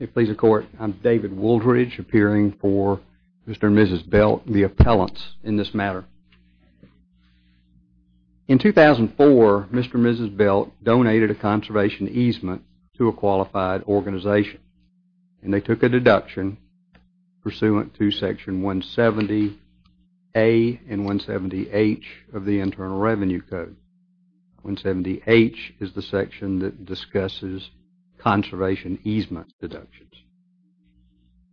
I'm David Wooldridge, appearing for Mr. and Mrs. Belk, the appellants in this matter. In 2004, Mr. and Mrs. Belk donated a conservation easement to a qualified organization, and they took a deduction pursuant to Section 170A and 170H of the Internal Revenue Code. 170H is the section that discusses conservation easement deductions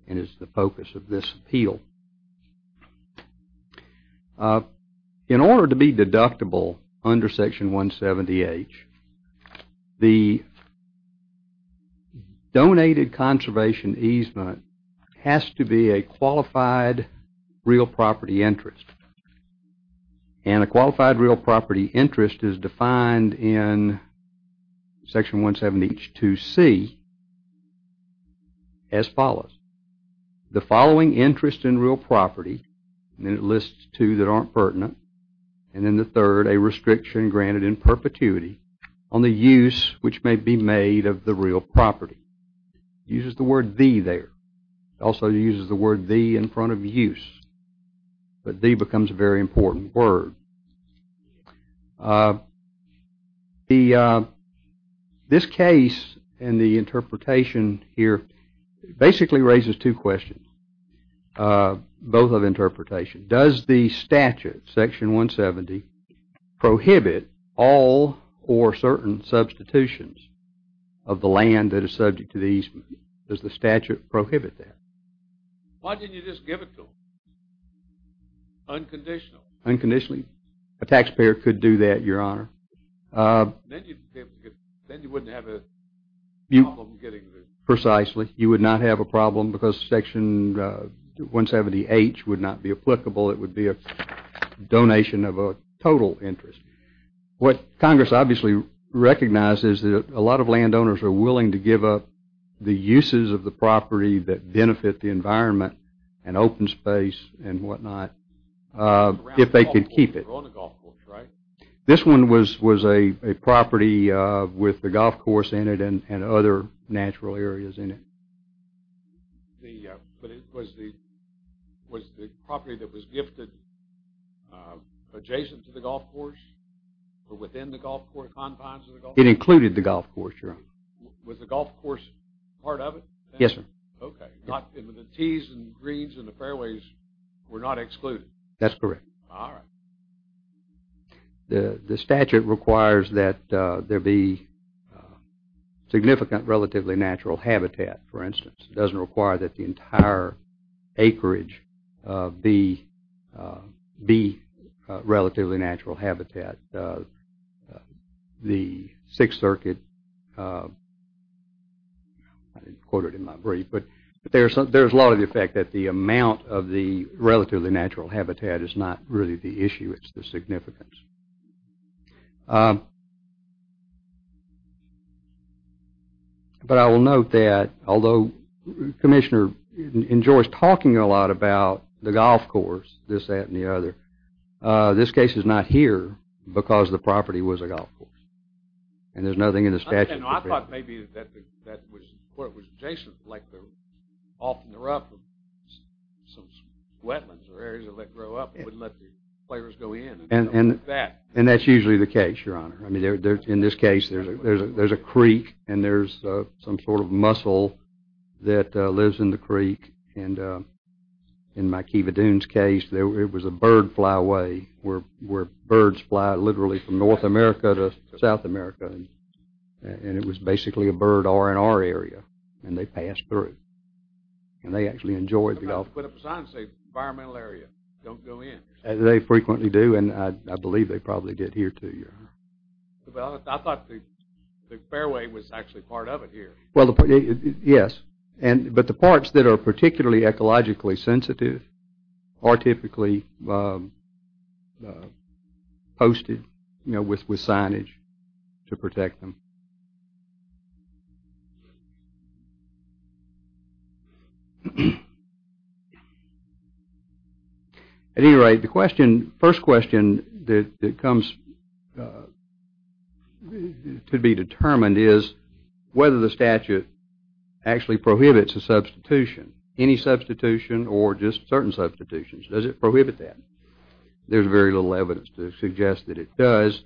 and is the focus of this appeal. In order to be deductible under Section 170H, the donated conservation easement has to be a qualified real property interest, and a qualified real property interest is defined in Section 170H2C as follows. The following interest in real property, and it lists two that aren't pertinent, and then the third, a restriction granted in perpetuity on the use which may be made of the real property. It uses the word the there. It also uses the word the in front of use, but the becomes a very important word. This case and the interpretation here basically raises two questions, both of interpretation. Does the statute, Section 170, prohibit all or certain substitutions of the land that is subject to the easement? Does the statute prohibit that? Why didn't you just give it to them unconditionally? Unconditionally? A taxpayer could do that, Your Honor. Then you wouldn't have a problem getting there. It would be a donation of a total interest. What Congress obviously recognizes is that a lot of landowners are willing to give up the uses of the property that benefit the environment and open space and whatnot if they could keep it. This one was a property with the golf course in it and other natural areas in it. But was the property that was gifted adjacent to the golf course or within the golf course confines of the golf course? It included the golf course, Your Honor. Was the golf course part of it? Yes, sir. OK. The tees and greens and the fairways were not excluded? That's correct. All right. The statute requires that there be significant relatively natural habitat, for instance. It doesn't require that the entire acreage be relatively natural habitat. The Sixth Circuit, I didn't quote it in my brief, but there's a lot of the effect that the amount of the relatively natural habitat is not really the issue. It's the significance. But I will note that although the commissioner enjoys talking a lot about the golf course, this, that, and the other, this case is not here because the property was a golf course. And there's nothing in the statute. I thought maybe that was what was adjacent, like the off and the rough of some wetlands or areas that let grow up and wouldn't let the players go in. And that's usually the case, Your Honor. I mean, in this case, there's a creek and there's some sort of mussel that lives in the creek. And in my Kiva Dunes case, it was a bird flyaway where birds fly literally from North America to South America. And it was basically a bird R&R area. And they passed through. And they actually enjoyed the golf course. I put up a sign that said environmental area. Don't go in. They frequently do. And I believe they probably did here, too, Your Honor. But I thought the fairway was actually part of it here. Well, yes. But the parts that are particularly ecologically sensitive are typically posted with signage to protect them. At any rate, the first question that comes to be determined is whether the statute actually prohibits a substitution, any substitution or just certain substitutions. Does it prohibit that? There's very little evidence to suggest that it does.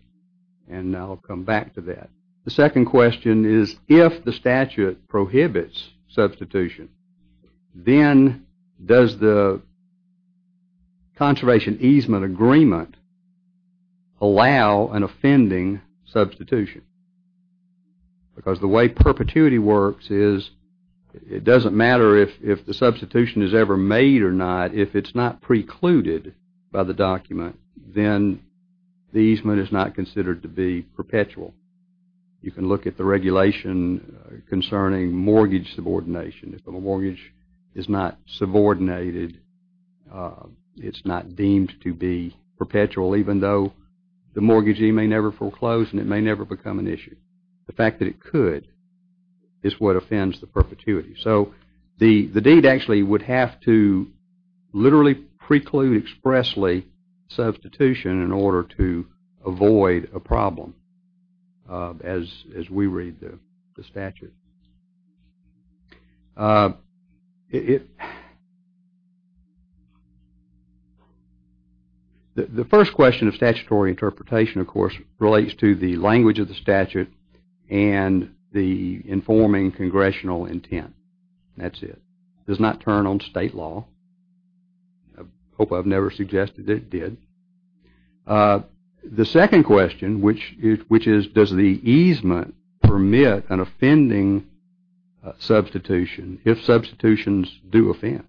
And I'll come back to that. The second question is if the statute prohibits substitution, then does the conservation easement agreement allow an offending substitution? Because the way perpetuity works is it doesn't matter if the substitution is ever made or denied, if it's not precluded by the document, then the easement is not considered to be perpetual. You can look at the regulation concerning mortgage subordination. If a mortgage is not subordinated, it's not deemed to be perpetual even though the mortgagee may never foreclose and it may never become an issue. The fact that it could is what offends the perpetuity. So the deed actually would have to literally preclude expressly substitution in order to avoid a problem as we read the statute. The first question of statutory interpretation, of course, relates to the language of the That's it. Does not turn on state law. I hope I've never suggested it did. The second question, which is does the easement permit an offending substitution if substitutions do offend,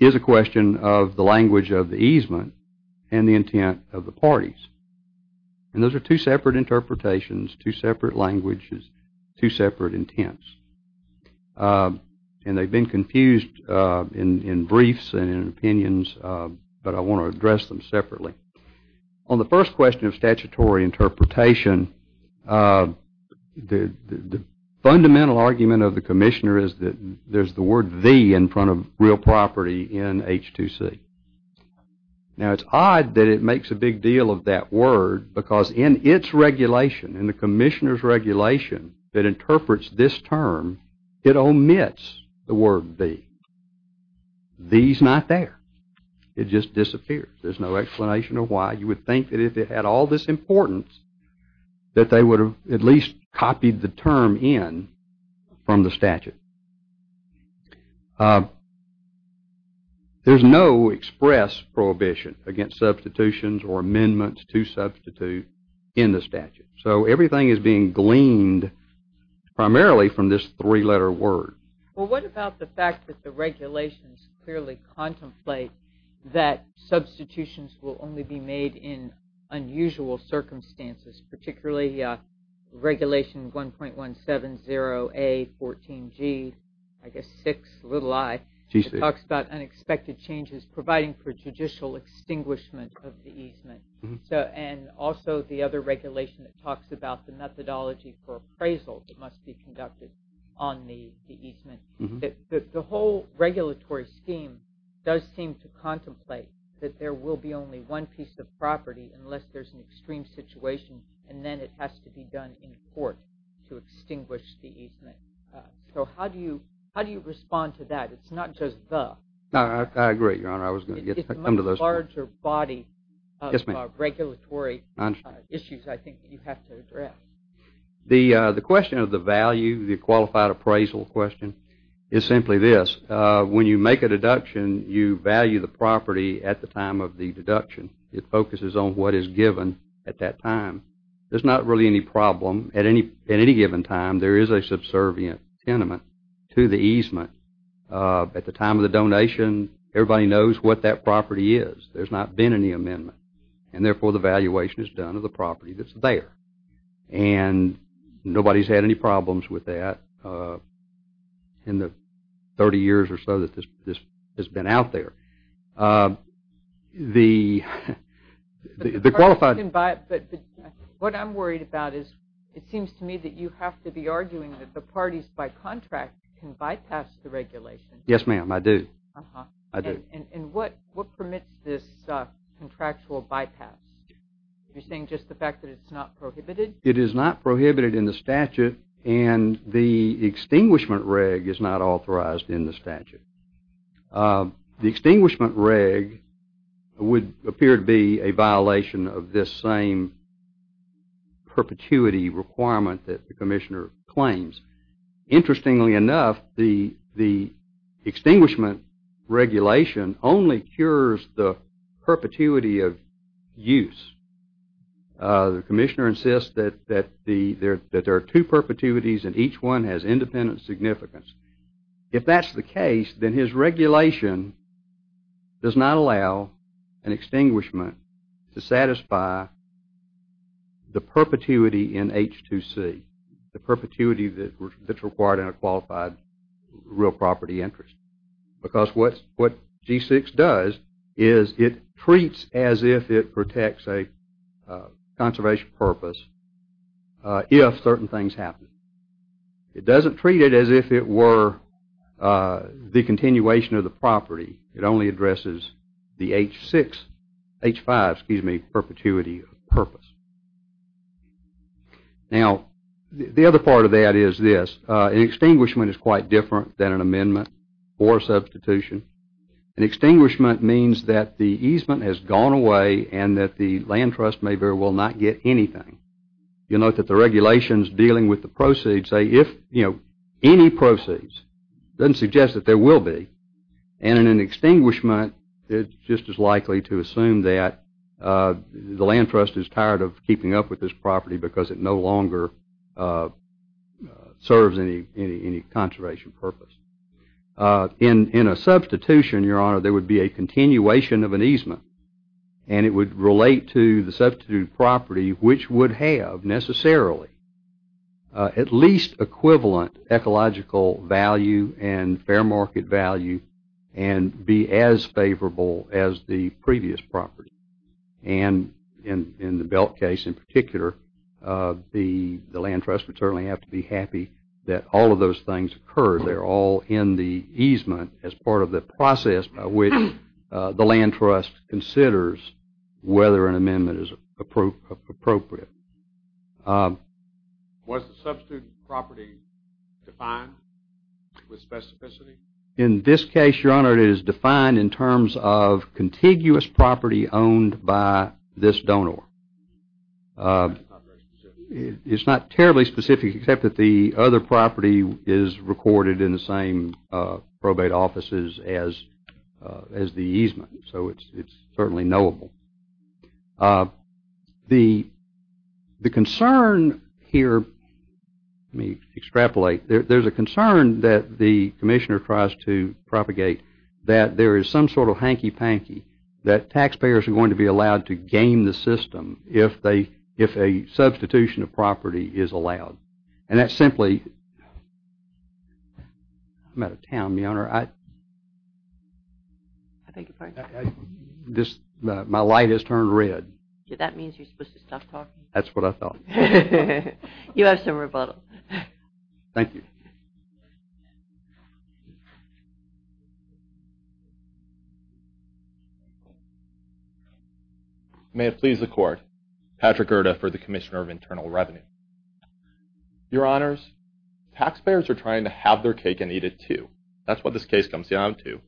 is a question of the language of the easement and the intent of the parties. And those are two separate interpretations, two separate languages, two separate intents. And they've been confused in briefs and in opinions, but I want to address them separately. On the first question of statutory interpretation, the fundamental argument of the commissioner is that there's the word the in front of real property in H2C. Now, it's odd that it makes a big deal of that word because in its regulation, in the commissioner's regulation that interprets this term, it omits the word the. The is not there. It just disappears. There's no explanation of why. You would think that if it had all this importance that they would have at least copied the term in from the statute. There's no express prohibition against substitutions or amendments to substitute in the statute. So everything is being gleaned primarily from this three-letter word. Well, what about the fact that the regulations clearly contemplate that substitutions will only be made in unusual circumstances, particularly regulation 1.170A14G, which talks about unexpected changes providing for judicial extinguishment of the easement. And also the other regulation that talks about the methodology for appraisal that must be conducted on the easement. The whole regulatory scheme does seem to contemplate that there will be only one piece of property unless there's an extreme situation, and then it has to be done in court to extinguish the easement. So how do you respond to that? It's not just the. I agree, Your Honor. It's a much larger body of regulatory issues, I think, that you have to address. The question of the value, the qualified appraisal question, is simply this. When you make a deduction, you value the property at the time of the deduction. It focuses on what is given at that time. There's not really any problem. At any given time, there is a subservient tenement to the easement. At the time of the donation, everybody knows what that property is. There's not been any amendment. And therefore, the valuation is done of the property that's there. And nobody's had any problems with that in the 30 years or so that this has been out there. The qualified. But what I'm worried about is it seems to me that you have to be arguing that the parties by contract can bypass the regulation. Yes, ma'am. I do. I do. And what permits this contractual bypass? Are you saying just the fact that it's not prohibited? It is not prohibited in the statute, and the extinguishment reg is not authorized in the statute. The extinguishment reg would appear to be a violation of this same perpetuity requirement that the commissioner claims. Interestingly enough, the extinguishment regulation only cures the perpetuity of use. The commissioner insists that there are two perpetuities, and each one has independent significance. If that's the case, then his regulation does not allow an extinguishment to satisfy the perpetuity in H2C, the perpetuity that's required in a qualified real property interest. Because what G6 does is it treats as if it protects a conservation purpose if certain things happen. It doesn't treat it as if it were the continuation of the property. It only addresses the H6, H5, excuse me, perpetuity purpose. Now, the other part of that is this. An extinguishment is quite different than an amendment or a substitution. An extinguishment means that the easement has gone away and that the land trust may very well not get anything. You'll note that the regulations dealing with the proceeds say if, you know, any proceeds. It doesn't suggest that there will be. And in an extinguishment, it's just as likely to assume that the land trust is tired of keeping up with this property because it no longer serves any conservation purpose. In a substitution, Your Honor, there would be a continuation of an easement, and it would relate to the substitute property, which would have necessarily at least equivalent ecological value and fair market value and be as favorable as the previous property. And in the Belk case in particular, the land trust would certainly have to be happy that all of those things occurred. They're all in the easement as part of the process by which the land trust considers whether an amendment is appropriate. Was the substitute property defined with specificity? In this case, Your Honor, it is defined in terms of contiguous property owned by this donor. It's not terribly specific except that the other property is recorded in the same probate offices as the easement, so it's certainly knowable. The concern here, let me extrapolate. There's a concern that the commissioner tries to propagate that there is some sort of hanky-panky that taxpayers are going to be allowed to game the system if a substitution of property is allowed. And that's simply... I'm out of town, Your Honor. My light has turned red. That means you're supposed to stop talking. That's what I thought. You have some rebuttal. Thank you. May it please the Court. Patrick Gerda for the Commissioner of Internal Revenue. Your Honors, taxpayers are trying to have their cake and eat it too. That's what this case comes down to.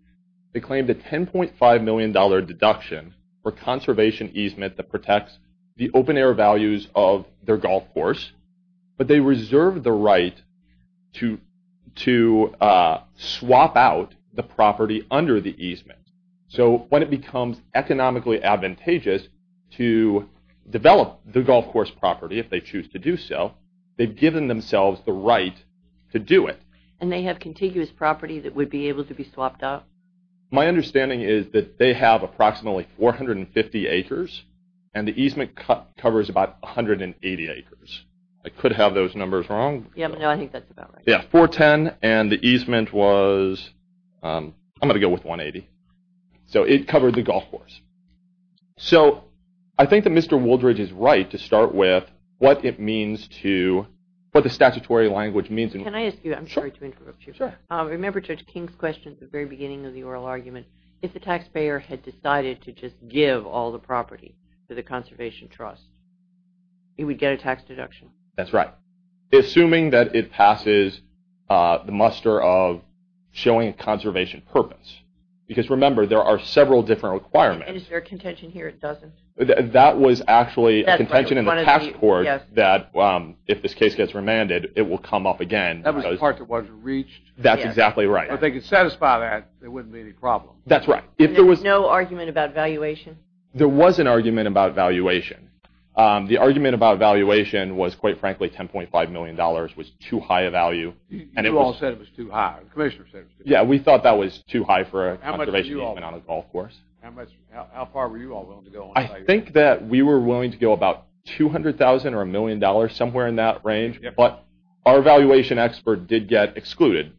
They claim the $10.5 million deduction for conservation easement that protects the open air values of their golf course, but they reserve the right to swap out the property under the easement. So when it becomes economically advantageous to develop the golf course property, if they choose to do so, they've given themselves the right to do it. And they have contiguous property that would be able to be swapped out? My understanding is that they have approximately 450 acres, and the easement covers about 180 acres. I could have those numbers wrong. No, I think that's about right. Yeah, 410, and the easement was, I'm going to go with 180. So it covered the golf course. So I think that Mr. Wooldridge is right to start with what it means to, what the statutory language means. Can I ask you, I'm sorry to interrupt you. Sure. Remember Judge King's question at the very beginning of the oral argument. If the taxpayer had decided to just give all the property to the conservation trust, he would get a tax deduction. That's right. Assuming that it passes the muster of showing a conservation purpose. Because remember, there are several different requirements. And is there a contention here? It doesn't. That was actually a contention in the passport that if this case gets remanded, it will come up again. That means the property wasn't reached. That's exactly right. If they could satisfy that, there wouldn't be any problem. That's right. There was no argument about valuation? There was an argument about valuation. The argument about valuation was, quite frankly, $10.5 million was too high a value. You all said it was too high. The commissioner said it was too high. Yeah, we thought that was too high for a conservation movement on a golf course. How far were you all willing to go? I think that we were willing to go about $200,000 or $1 million, somewhere in that range. But our valuation expert did get excluded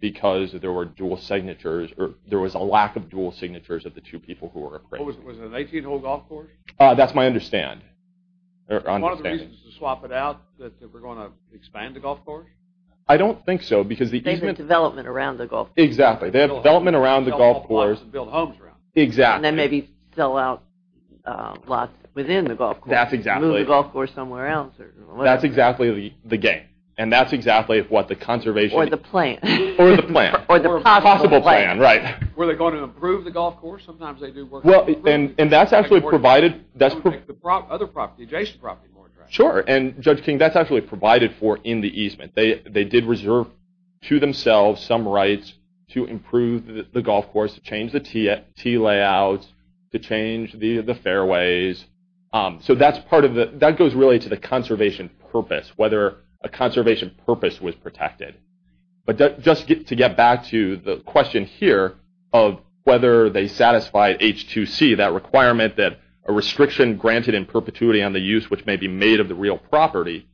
because there were dual signatures, or there was a lack of dual signatures of the two people who were appraised. Was it an 18-hole golf course? That's my understanding. One of the reasons to swap it out is that we're going to expand the golf course? I don't think so. They have the development around the golf course. Exactly. They have development around the golf course. Sell golf clubs and build homes around it. Exactly. And then maybe sell out lots within the golf course. That's exactly it. Move the golf course somewhere else. That's exactly the game. And that's exactly what the conservation— Or the plan. Or the plan. Or the possible plan. Possible plan, right. Were they going to improve the golf course? Well, and that's actually provided— Sure. And, Judge King, that's actually provided for in the easement. They did reserve to themselves some rights to improve the golf course, to change the tee layouts, to change the fairways. So that goes really to the conservation purpose, whether a conservation purpose was protected. But just to get back to the question here of whether they satisfied H2C, that requirement that a restriction granted in perpetuity on the use which may be made of the real property,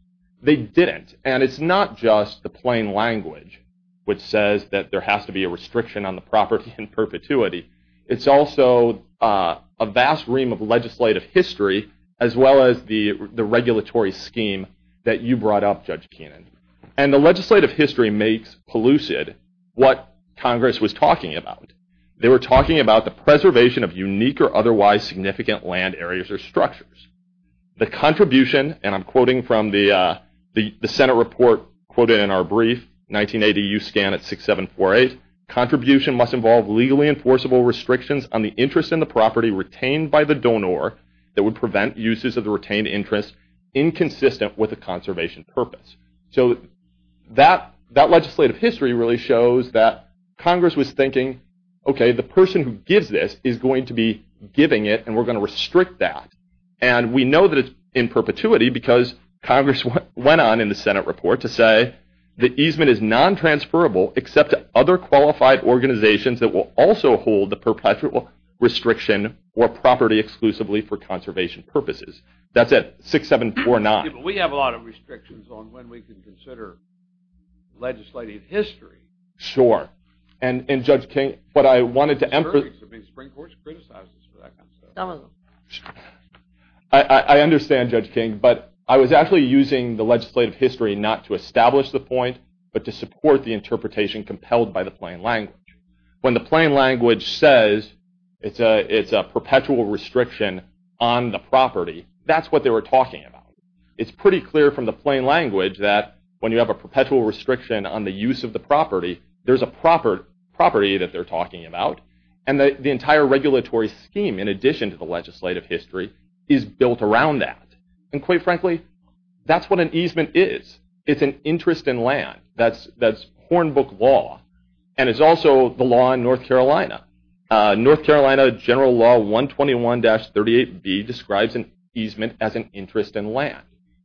they didn't. And it's not just the plain language, which says that there has to be a restriction on the property in perpetuity. It's also a vast ream of legislative history, as well as the regulatory scheme that you brought up, Judge Keenan. And the legislative history makes pellucid what Congress was talking about. They were talking about the preservation of unique or otherwise significant land areas or structures. The contribution, and I'm quoting from the Senate report quoted in our brief, 1980 U.S. Scan at 6748, contribution must involve legally enforceable restrictions on the interest in the property retained by the donor that would prevent uses of the retained interest inconsistent with the conservation purpose. So that legislative history really shows that Congress was thinking, okay, the person who gives this is going to be giving it, and we're going to restrict that. And we know that it's in perpetuity because Congress went on in the Senate report to say the easement is non-transferable except to other qualified organizations that will also hold the perpetual restriction or property exclusively for conservation purposes. That's at 6749. We have a lot of restrictions on when we can consider legislative history. Sure. And, Judge King, what I wanted to emphasize. I mean, the Supreme Court has criticized us for that kind of stuff. Some of them. I understand, Judge King, but I was actually using the legislative history not to establish the point but to support the interpretation compelled by the plain language. When the plain language says it's a perpetual restriction on the property, that's what they were talking about. It's pretty clear from the plain language that when you have a perpetual restriction on the use of the property, there's a property that they're talking about, and the entire regulatory scheme, in addition to the legislative history, is built around that. And, quite frankly, that's what an easement is. It's an interest in land. That's Hornbook law. And it's also the law in North Carolina. North Carolina General Law 121-38b describes an easement as an interest in land.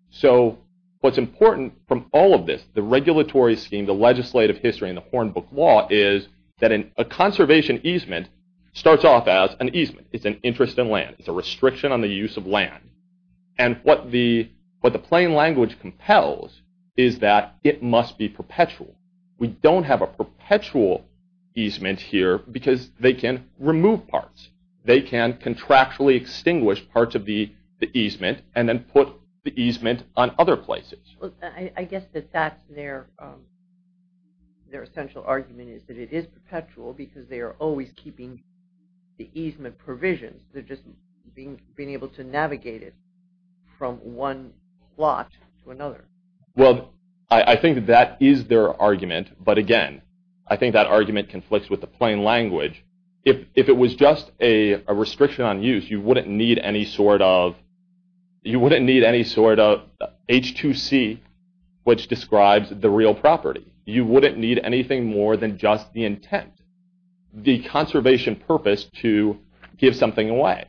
So what's important from all of this, the regulatory scheme, the legislative history, and the Hornbook law is that a conservation easement starts off as an easement. It's an interest in land. It's a restriction on the use of land. And what the plain language compels is that it must be perpetual. We don't have a perpetual easement here because they can remove parts. They can contractually extinguish parts of the easement and then put the easement on other places. I guess that their essential argument is that it is perpetual because they are always keeping the easement provisions. They're just being able to navigate it from one plot to another. Well, I think that is their argument. But again, I think that argument conflicts with the plain language. If it was just a restriction on use, you wouldn't need any sort of H2C, which describes the real property. You wouldn't need anything more than just the intent, the conservation purpose to give something away.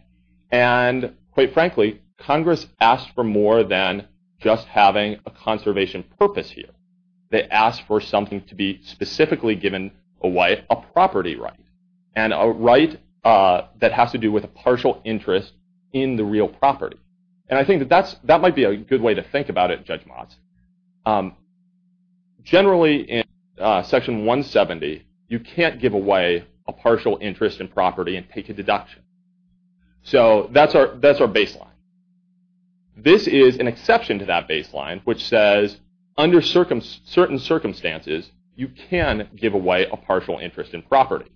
And quite frankly, Congress asked for more than just having a conservation purpose here. They asked for something to be specifically given away, a property right. And a right that has to do with a partial interest in the real property. And I think that might be a good way to think about it, Judge Motz. Generally, in Section 170, you can't give away a partial interest in property and take a deduction. So that's our baseline. This is an exception to that baseline, which says under certain circumstances, you can give away a partial interest in property.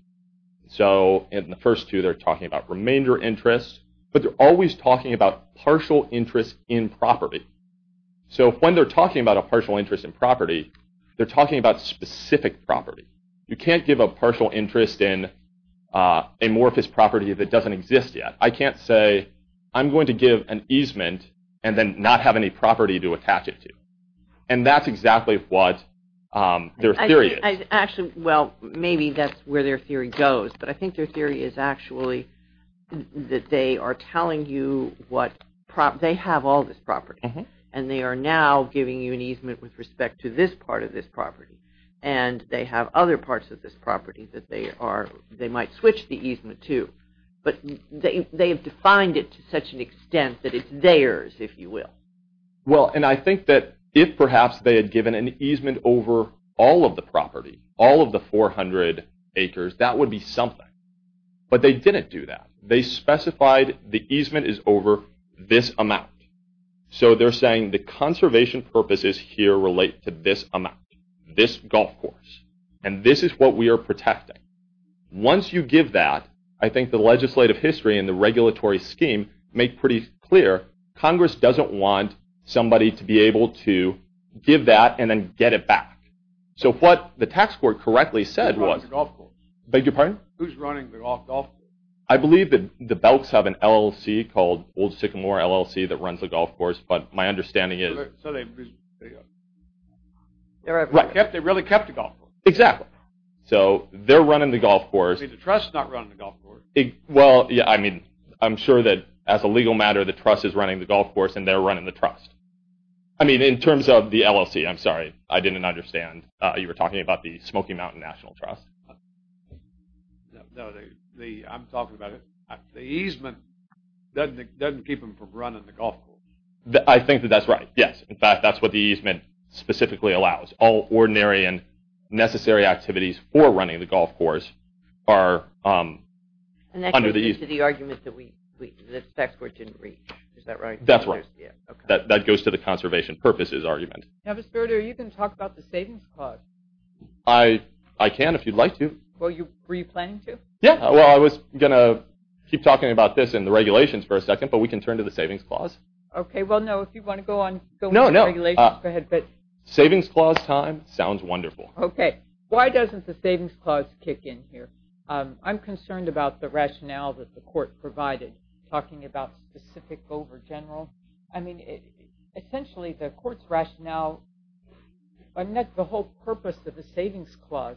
So in the first two, they're talking about remainder interest, but they're always talking about partial interest in property. So when they're talking about a partial interest in property, they're talking about specific property. You can't give a partial interest in amorphous property that doesn't exist yet. I can't say I'm going to give an easement and then not have any property to attach it to. And that's exactly what their theory is. Actually, well, maybe that's where their theory goes. But I think their theory is actually that they are telling you what, they have all this property. And they are now giving you an easement with respect to this part of this property. And they have other parts of this property that they might switch the easement to. But they have defined it to such an extent that it's theirs, if you will. Well, and I think that if perhaps they had given an easement over all of the property, all of the 400 acres, that would be something. But they didn't do that. They specified the easement is over this amount. So they're saying the conservation purposes here relate to this amount, this golf course. And this is what we are protecting. Once you give that, I think the legislative history and the regulatory scheme make pretty clear, Congress doesn't want somebody to be able to give that and then get it back. So what the tax court correctly said was... Who's running the golf course? Beg your pardon? Who's running the golf course? I believe that the belts have an LLC called Old Sycamore LLC that runs the golf course. But my understanding is... So they really kept the golf course. Exactly. So they're running the golf course. The trust is not running the golf course. Well, I mean, I'm sure that as a legal matter, the trust is running the golf course and they're running the trust. I mean, in terms of the LLC. I'm sorry, I didn't understand. You were talking about the Smoky Mountain National Trust. No, I'm talking about it. The easement doesn't keep them from running the golf course. I think that that's right, yes. In fact, that's what the easement specifically allows. All ordinary and necessary activities for running the golf course are under the easement. And that goes to the argument that the tax court didn't reach. Is that right? That's right. That goes to the conservation purposes argument. Now, Mr. Berger, you can talk about the savings clause. I can if you'd like to. Were you planning to? Yeah. Well, I was going to keep talking about this and the regulations for a second, but we can turn to the savings clause. Okay. Well, no, if you want to go on... No, no. Savings clause time. Sounds wonderful. Okay. Why doesn't the savings clause kick in here? I'm concerned about the rationale that the court provided, talking about specific over general. I mean, essentially the court's rationale, I mean, the whole purpose of the savings clause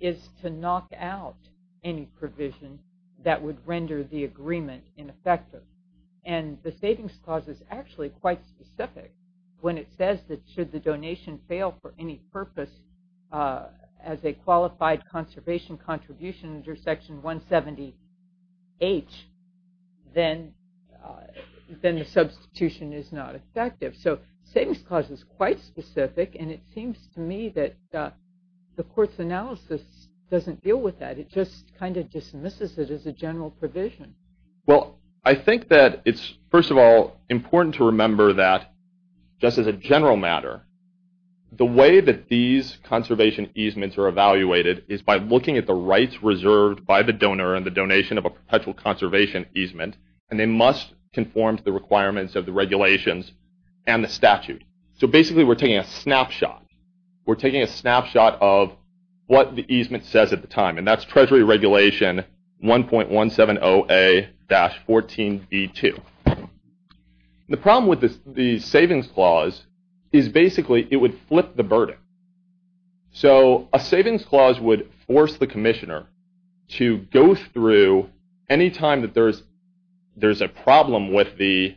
is to knock out any provision that would render the agreement ineffective. And the savings clause is actually quite specific when it says that should the donation fail for any purpose as a qualified conservation contribution under Section 170H, then the substitution is not effective. So savings clause is quite specific, and it seems to me that the court's analysis doesn't deal with that. It just kind of dismisses it as a general provision. Well, I think that it's, first of all, important to remember that just as a general matter, the way that these conservation easements are evaluated is by looking at the rights reserved by the donor and the donation of a perpetual conservation easement, and they must conform to the requirements of the regulations and the statute. So basically we're taking a snapshot. We're taking a snapshot of what the easement says at the time, and that's Treasury Regulation 1.170A-14B2. The problem with the savings clause is basically it would flip the burden. So a savings clause would force the commissioner to go through any time that there's a problem with the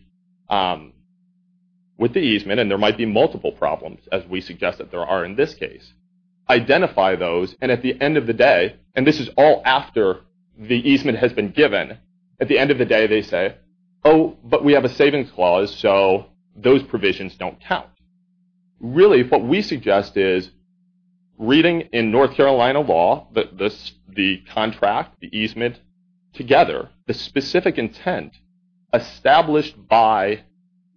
easement, and there might be multiple problems, as we suggest that there are in this case, identify those, and at the end of the day, and this is all after the easement has been given, at the end of the day they say, oh, but we have a savings clause, so those provisions don't count. Really what we suggest is reading in North Carolina law the contract, the easement, together, the specific intent established by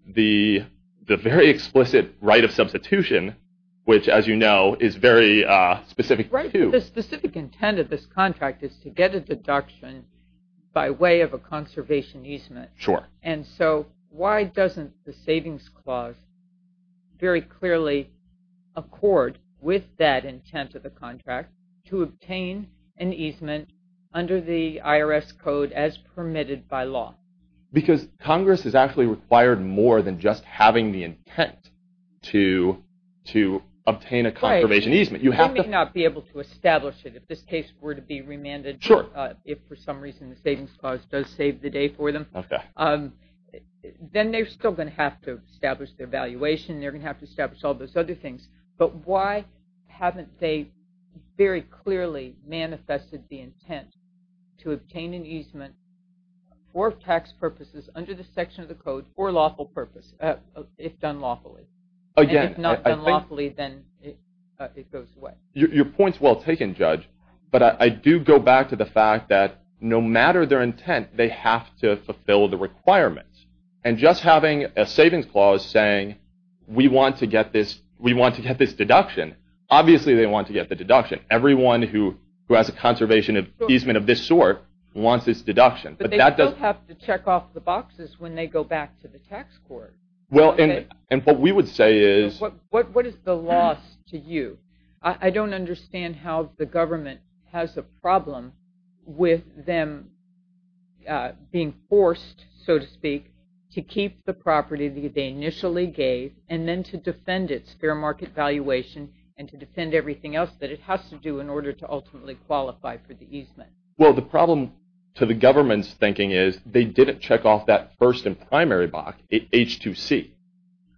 the very explicit right of substitution, which, as you know, is very specific too. Right, but the specific intent of this contract is to get a deduction by way of a conservation easement. Sure. And so why doesn't the savings clause very clearly accord with that intent of the contract to obtain an easement under the IRS code as permitted by law? Because Congress is actually required more than just having the intent to obtain a conservation easement. You may not be able to establish it. If this case were to be remanded, if for some reason the savings clause does save the day for them, then they're still going to have to establish their valuation, they're going to have to establish all those other things. But why haven't they very clearly manifested the intent to obtain an easement for tax purposes under the section of the code for lawful purpose, if done lawfully? Again, I think... And if not done lawfully, then it goes away. Your point's well taken, Judge, but I do go back to the fact that no matter their intent, they have to fulfill the requirements. And just having a savings clause saying, we want to get this deduction, obviously they want to get the deduction. Everyone who has a conservation easement of this sort wants this deduction. But they still have to check off the boxes when they go back to the tax court. Well, and what we would say is... What is the loss to you? I don't understand how the government has a problem with them being forced, so to speak, to keep the property that they initially gave and then to defend its fair market valuation and to defend everything else that it has to do in order to ultimately qualify for the easement. Well, the problem to the government's thinking is they didn't check off that first and primary box, H2C.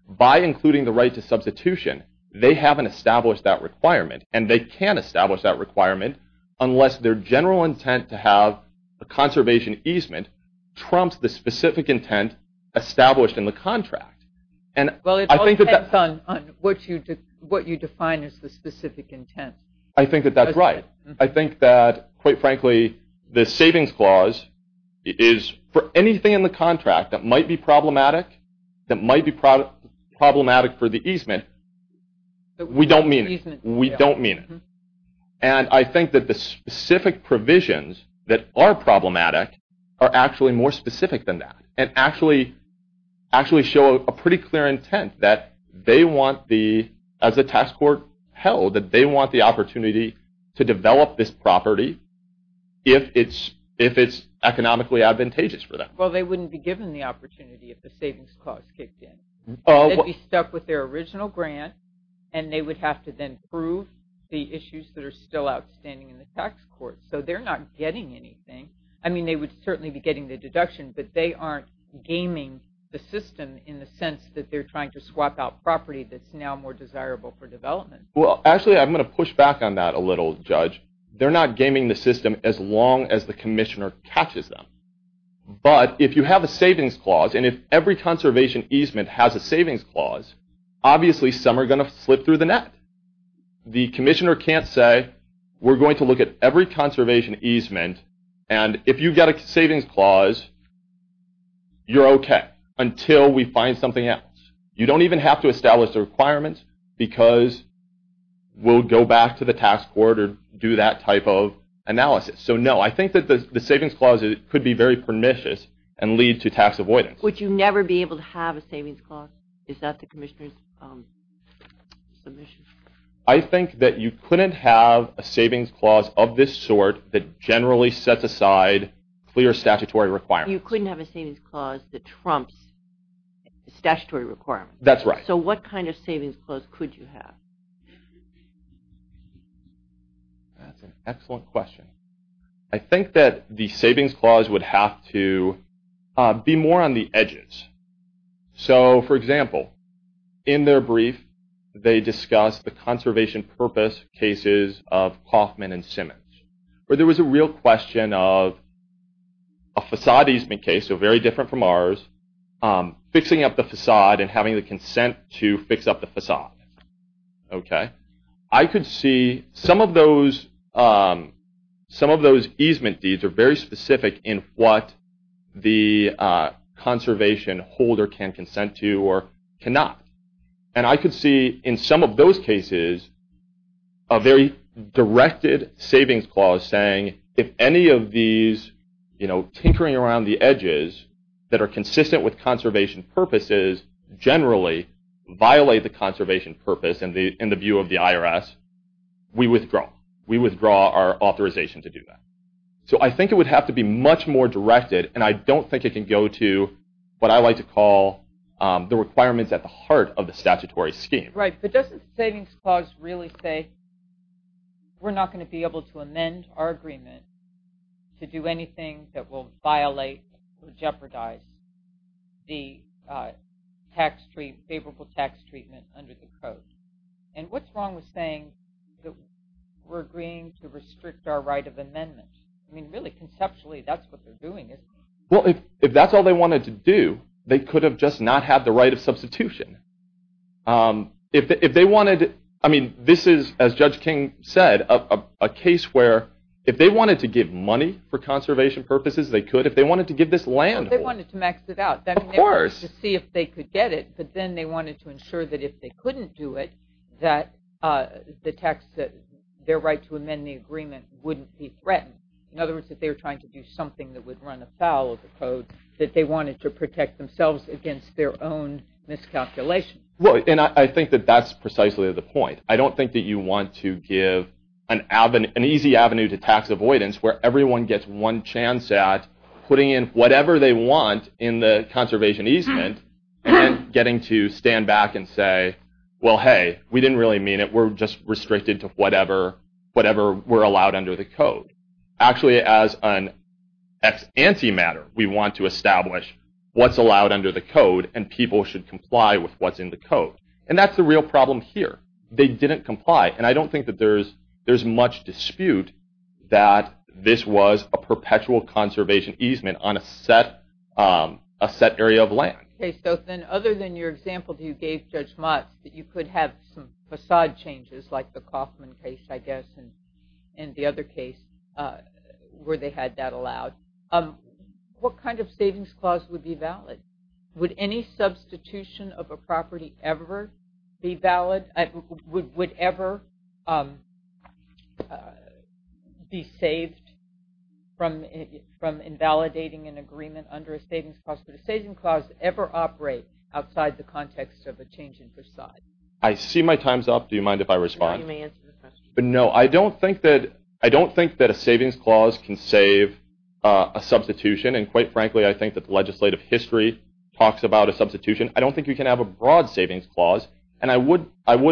By including the right to substitution, they haven't established that requirement. And they can't establish that requirement unless their general intent to have a conservation easement trumps the specific intent established in the contract. Well, it all depends on what you define as the specific intent. I think that that's right. I think that, quite frankly, the savings clause is for anything in the contract that might be problematic, that might be problematic for the easement. We don't mean it. We don't mean it. And I think that the specific provisions that are problematic are actually more specific than that and actually show a pretty clear intent that they want the... As the tax court held, that they want the opportunity to develop this property if it's economically advantageous for them. Well, they wouldn't be given the opportunity if the savings clause kicked in. They'd be stuck with their original grant, and they would have to then prove the issues that are still outstanding in the tax court. So they're not getting anything. I mean, they would certainly be getting the deduction, but they aren't gaming the system in the sense that they're trying to swap out property that's now more desirable for development. Well, actually, I'm going to push back on that a little, Judge. They're not gaming the system as long as the commissioner catches them. But if you have a savings clause, and if every conservation easement has a savings clause, obviously some are going to slip through the net. The commissioner can't say, we're going to look at every conservation easement, and if you get a savings clause, you're okay until we find something else. You don't even have to establish the requirements because we'll go back to the tax court or do that type of analysis. So no, I think that the savings clause could be very pernicious and lead to tax avoidance. Would you never be able to have a savings clause? Is that the commissioner's submission? I think that you couldn't have a savings clause of this sort that generally sets aside clear statutory requirements. You couldn't have a savings clause that trumps statutory requirements. That's right. So what kind of savings clause could you have? That's an excellent question. I think that the savings clause would have to be more on the edges. So, for example, in their brief, they discuss the conservation purpose cases of Kauffman and Simmons, where there was a real question of a facade easement case, so very different from ours, fixing up the facade and having the consent to fix up the facade. Okay? I could see some of those easement deeds are very specific in what the conservation holder can consent to or cannot. And I could see in some of those cases a very directed savings clause saying, if any of these tinkering around the edges that are consistent with conservation purposes generally violate the conservation purpose in the view of the IRS, we withdraw. We withdraw our authorization to do that. So I think it would have to be much more directed, and I don't think it can go to what I like to call the requirements at the heart of the statutory scheme. Right, but doesn't the savings clause really say we're not going to be able to amend our agreement to do anything that will violate or jeopardize the favorable tax treatment under the code? And what's wrong with saying that we're agreeing to restrict our right of amendment? I mean, really, conceptually, that's what they're doing, isn't it? Well, if that's all they wanted to do, they could have just not had the right of substitution. If they wanted to – I mean, this is, as Judge King said, a case where if they wanted to give money for conservation purposes, they could. If they wanted to give this land – Well, they wanted to max it out. Of course. I mean, they wanted to see if they could get it, but then they wanted to ensure that if they couldn't do it, that their right to amend the agreement wouldn't be threatened. In other words, if they were trying to do something that would run afoul of the code, that they wanted to protect themselves against their own miscalculation. Well, and I think that that's precisely the point. I don't think that you want to give an easy avenue to tax avoidance where everyone gets one chance at putting in whatever they want in the conservation easement and getting to stand back and say, well, hey, we didn't really mean it. We're just restricted to whatever we're allowed under the code. Actually, as an anti-matter, we want to establish what's allowed under the code and people should comply with what's in the code. And that's the real problem here. They didn't comply. And I don't think that there's much dispute that this was a perpetual conservation easement on a set area of land. Okay, so then other than your example you gave, Judge Motz, that you could have some facade changes like the Kauffman case, I guess, and the other case where they had that allowed, what kind of savings clause would be valid? Would any substitution of a property ever be valid? Would it ever be saved from invalidating an agreement under a savings clause? Would a savings clause ever operate outside the context of a change in facade? I see my time's up. Do you mind if I respond? No, you may answer the question. No, I don't think that a savings clause can save a substitution. And quite frankly, I think that the legislative history talks about a substitution. I don't think you can have a broad savings clause. And I would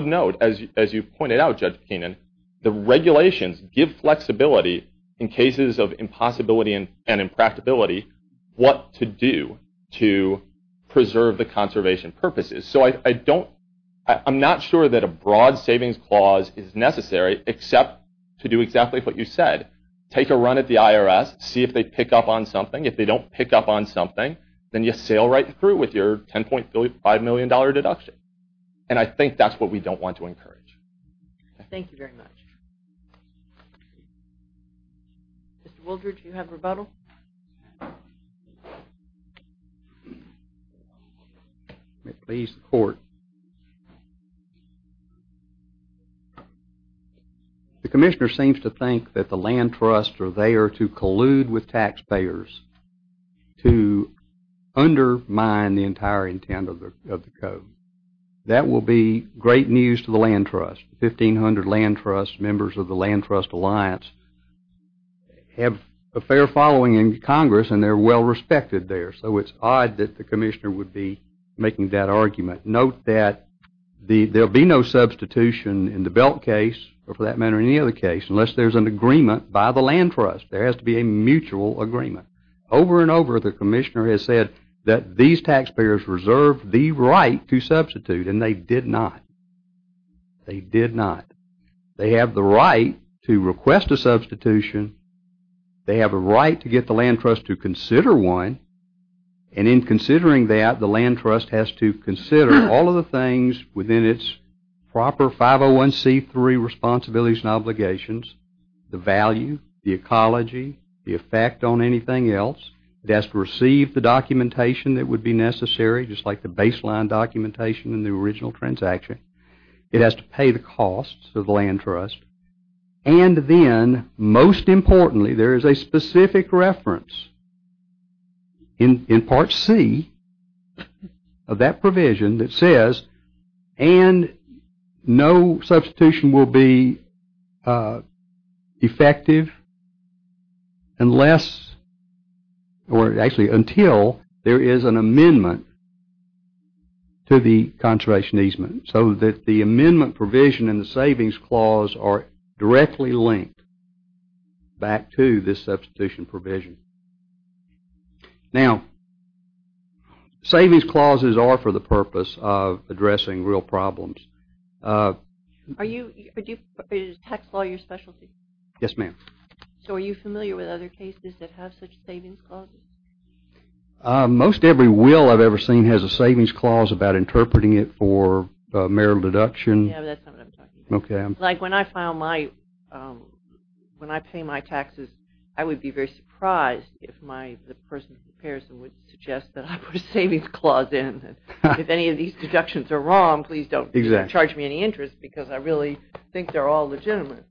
note, as you pointed out, Judge Keenan, the regulations give flexibility in cases of impossibility and impractability what to do to preserve the conservation purposes. So I'm not sure that a broad savings clause is necessary except to do exactly what you said, take a run at the IRS, see if they pick up on something. If they don't pick up on something, then you sail right through with your $10.5 million deduction. And I think that's what we don't want to encourage. Thank you very much. Mr. Wooldridge, do you have a rebuttal? May it please the court. The commissioner seems to think that the land trusts are there to collude with taxpayers to undermine the entire intent of the code. That will be great news to the land trust. Fifteen hundred land trusts, members of the land trust alliance, have a fair following in Congress and they're well respected there. So it's odd that the commissioner would be making that argument. Note that there will be no substitution in the Belk case or for that matter in any other case unless there's an agreement by the land trust. There has to be a mutual agreement. Over and over the commissioner has said that these taxpayers reserve the right to substitute and they did not. They did not. They have the right to request a substitution. They have a right to get the land trust to consider one. And in considering that, the land trust has to consider all of the things within its proper 501c3 responsibilities and obligations, the value, the ecology, the effect on anything else. It has to receive the documentation that would be necessary just like the baseline documentation in the original transaction. It has to pay the costs of the land trust. And then, most importantly, there is a specific reference in Part C of that provision that says, and no substitution will be effective unless or actually until there is an amendment to the conservation easement. So that the amendment provision and the savings clause are directly linked back to this substitution provision. Now, savings clauses are for the purpose of addressing real problems. Are you, is tax law your specialty? Yes, ma'am. So are you familiar with other cases that have such savings clauses? Most every will I've ever seen has a savings clause about interpreting it for marital deduction. Yeah, but that's not what I'm talking about. Okay. Yes, ma'am. Like when I file my, when I pay my taxes, I would be very surprised if my, the person who prepares them would suggest that I put a savings clause in. If any of these deductions are wrong, please don't charge me any interest because I really think they're all legitimate.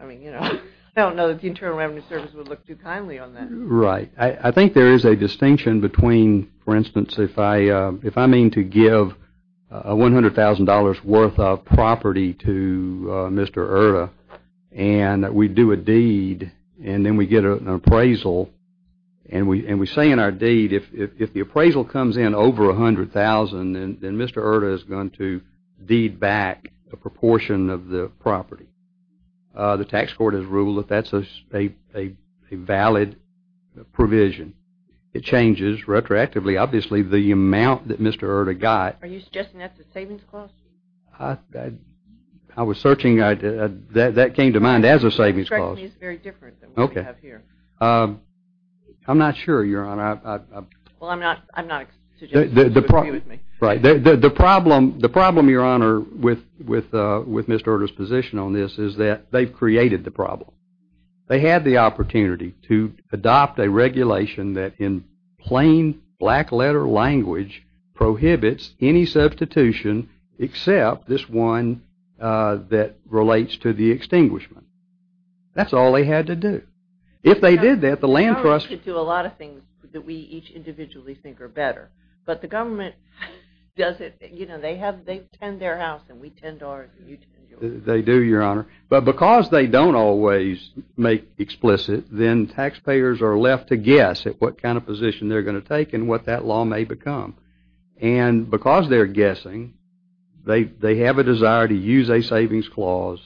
I mean, you know, I don't know that the Internal Revenue Service would look too kindly on that. Right. I think there is a distinction between, for instance, if I mean to give $100,000 worth of property to Mr. Erta and we do a deed and then we get an appraisal and we say in our deed, if the appraisal comes in over $100,000, then Mr. Erta is going to deed back a proportion of the property. The tax court has ruled that that's a valid provision. It changes retroactively. Obviously, the amount that Mr. Erta got Are you suggesting that's a savings clause? I was searching. That came to mind as a savings clause. It's very different than what we have here. I'm not sure, Your Honor. Well, I'm not suggesting. Right. The problem, Your Honor, with Mr. Erta's position on this is that they've created the problem. They had the opportunity to adopt a regulation that in plain black letter language prohibits any substitution except this one that relates to the extinguishment. That's all they had to do. If they did that, the land trust We could do a lot of things that we each individually think are better. But the government does it. You know, they tend their house and we tend ours and you tend yours. They do, Your Honor. But because they don't always make explicit, then taxpayers are left to guess at what kind of position they're going to take and what that law may become. And because they're guessing, they have a desire to use a savings clause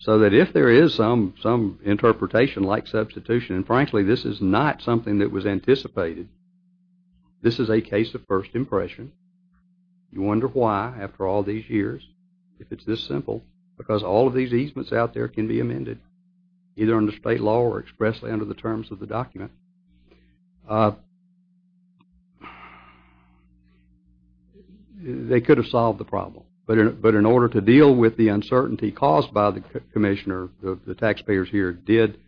so that if there is some interpretation like substitution, and frankly this is not something that was anticipated, this is a case of first impression. You wonder why after all these years if it's this simple because all of these easements out there can be amended either under state law or expressly under the terms of the document. They could have solved the problem. But in order to deal with the uncertainty caused by the commissioner, the taxpayers here did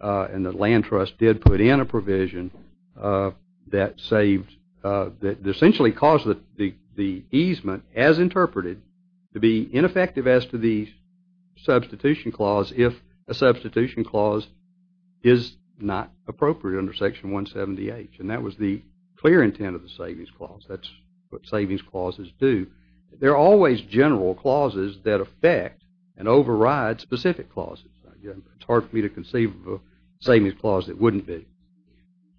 and the land trust did put in a provision that saved, that essentially caused the easement as interpreted to be ineffective as to the substitution clause if a substitution clause is not appropriate under Section 178. And that was the clear intent of the savings clause. That's what savings clauses do. They're always general clauses that affect and override specific clauses. It's hard for me to conceive of a savings clause that wouldn't be.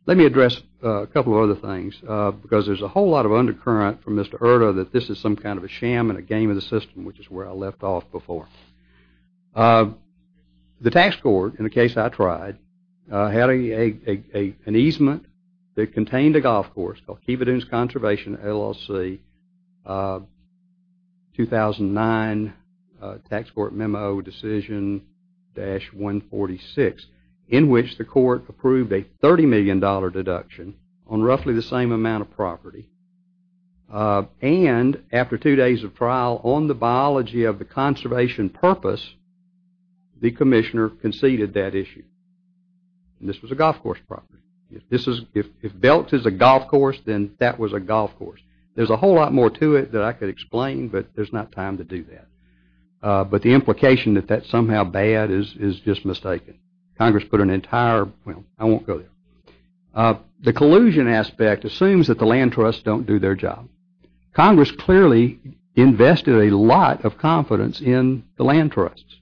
Let me address a couple of other things because there's a whole lot of undercurrent from Mr. Erta that this is some kind of a sham and a game of the system, which is where I left off before. The tax court, in the case I tried, had an easement that contained a golf course called Kiva Dunes Conservation LLC, 2009 Tax Court Memo Decision-146, in which the court approved a $30 million deduction on roughly the same amount of property. And after two days of trial on the biology of the conservation purpose, the commissioner conceded that issue. And this was a golf course property. If Belks is a golf course, then that was a golf course. There's a whole lot more to it that I could explain, but there's not time to do that. But the implication that that's somehow bad is just mistaken. Congress put an entire, well, I won't go there. The collusion aspect assumes that the land trusts don't do their job. Congress clearly invested a lot of confidence in the land trusts.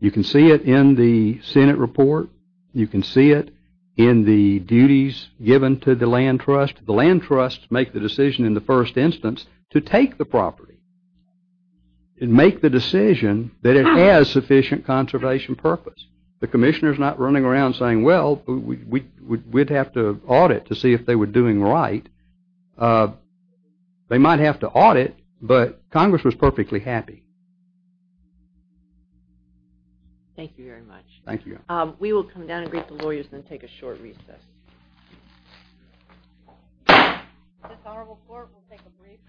You can see it in the Senate report. You can see it in the duties given to the land trust. The land trusts make the decision in the first instance to take the property and make the decision that it has sufficient conservation purpose. The commissioner's not running around saying, well, we'd have to audit to see if they were doing right. They might have to audit, but Congress was perfectly happy. Thank you very much. Thank you. We will come down and greet the lawyers and then take a short recess. This honorable court will take a brief recess.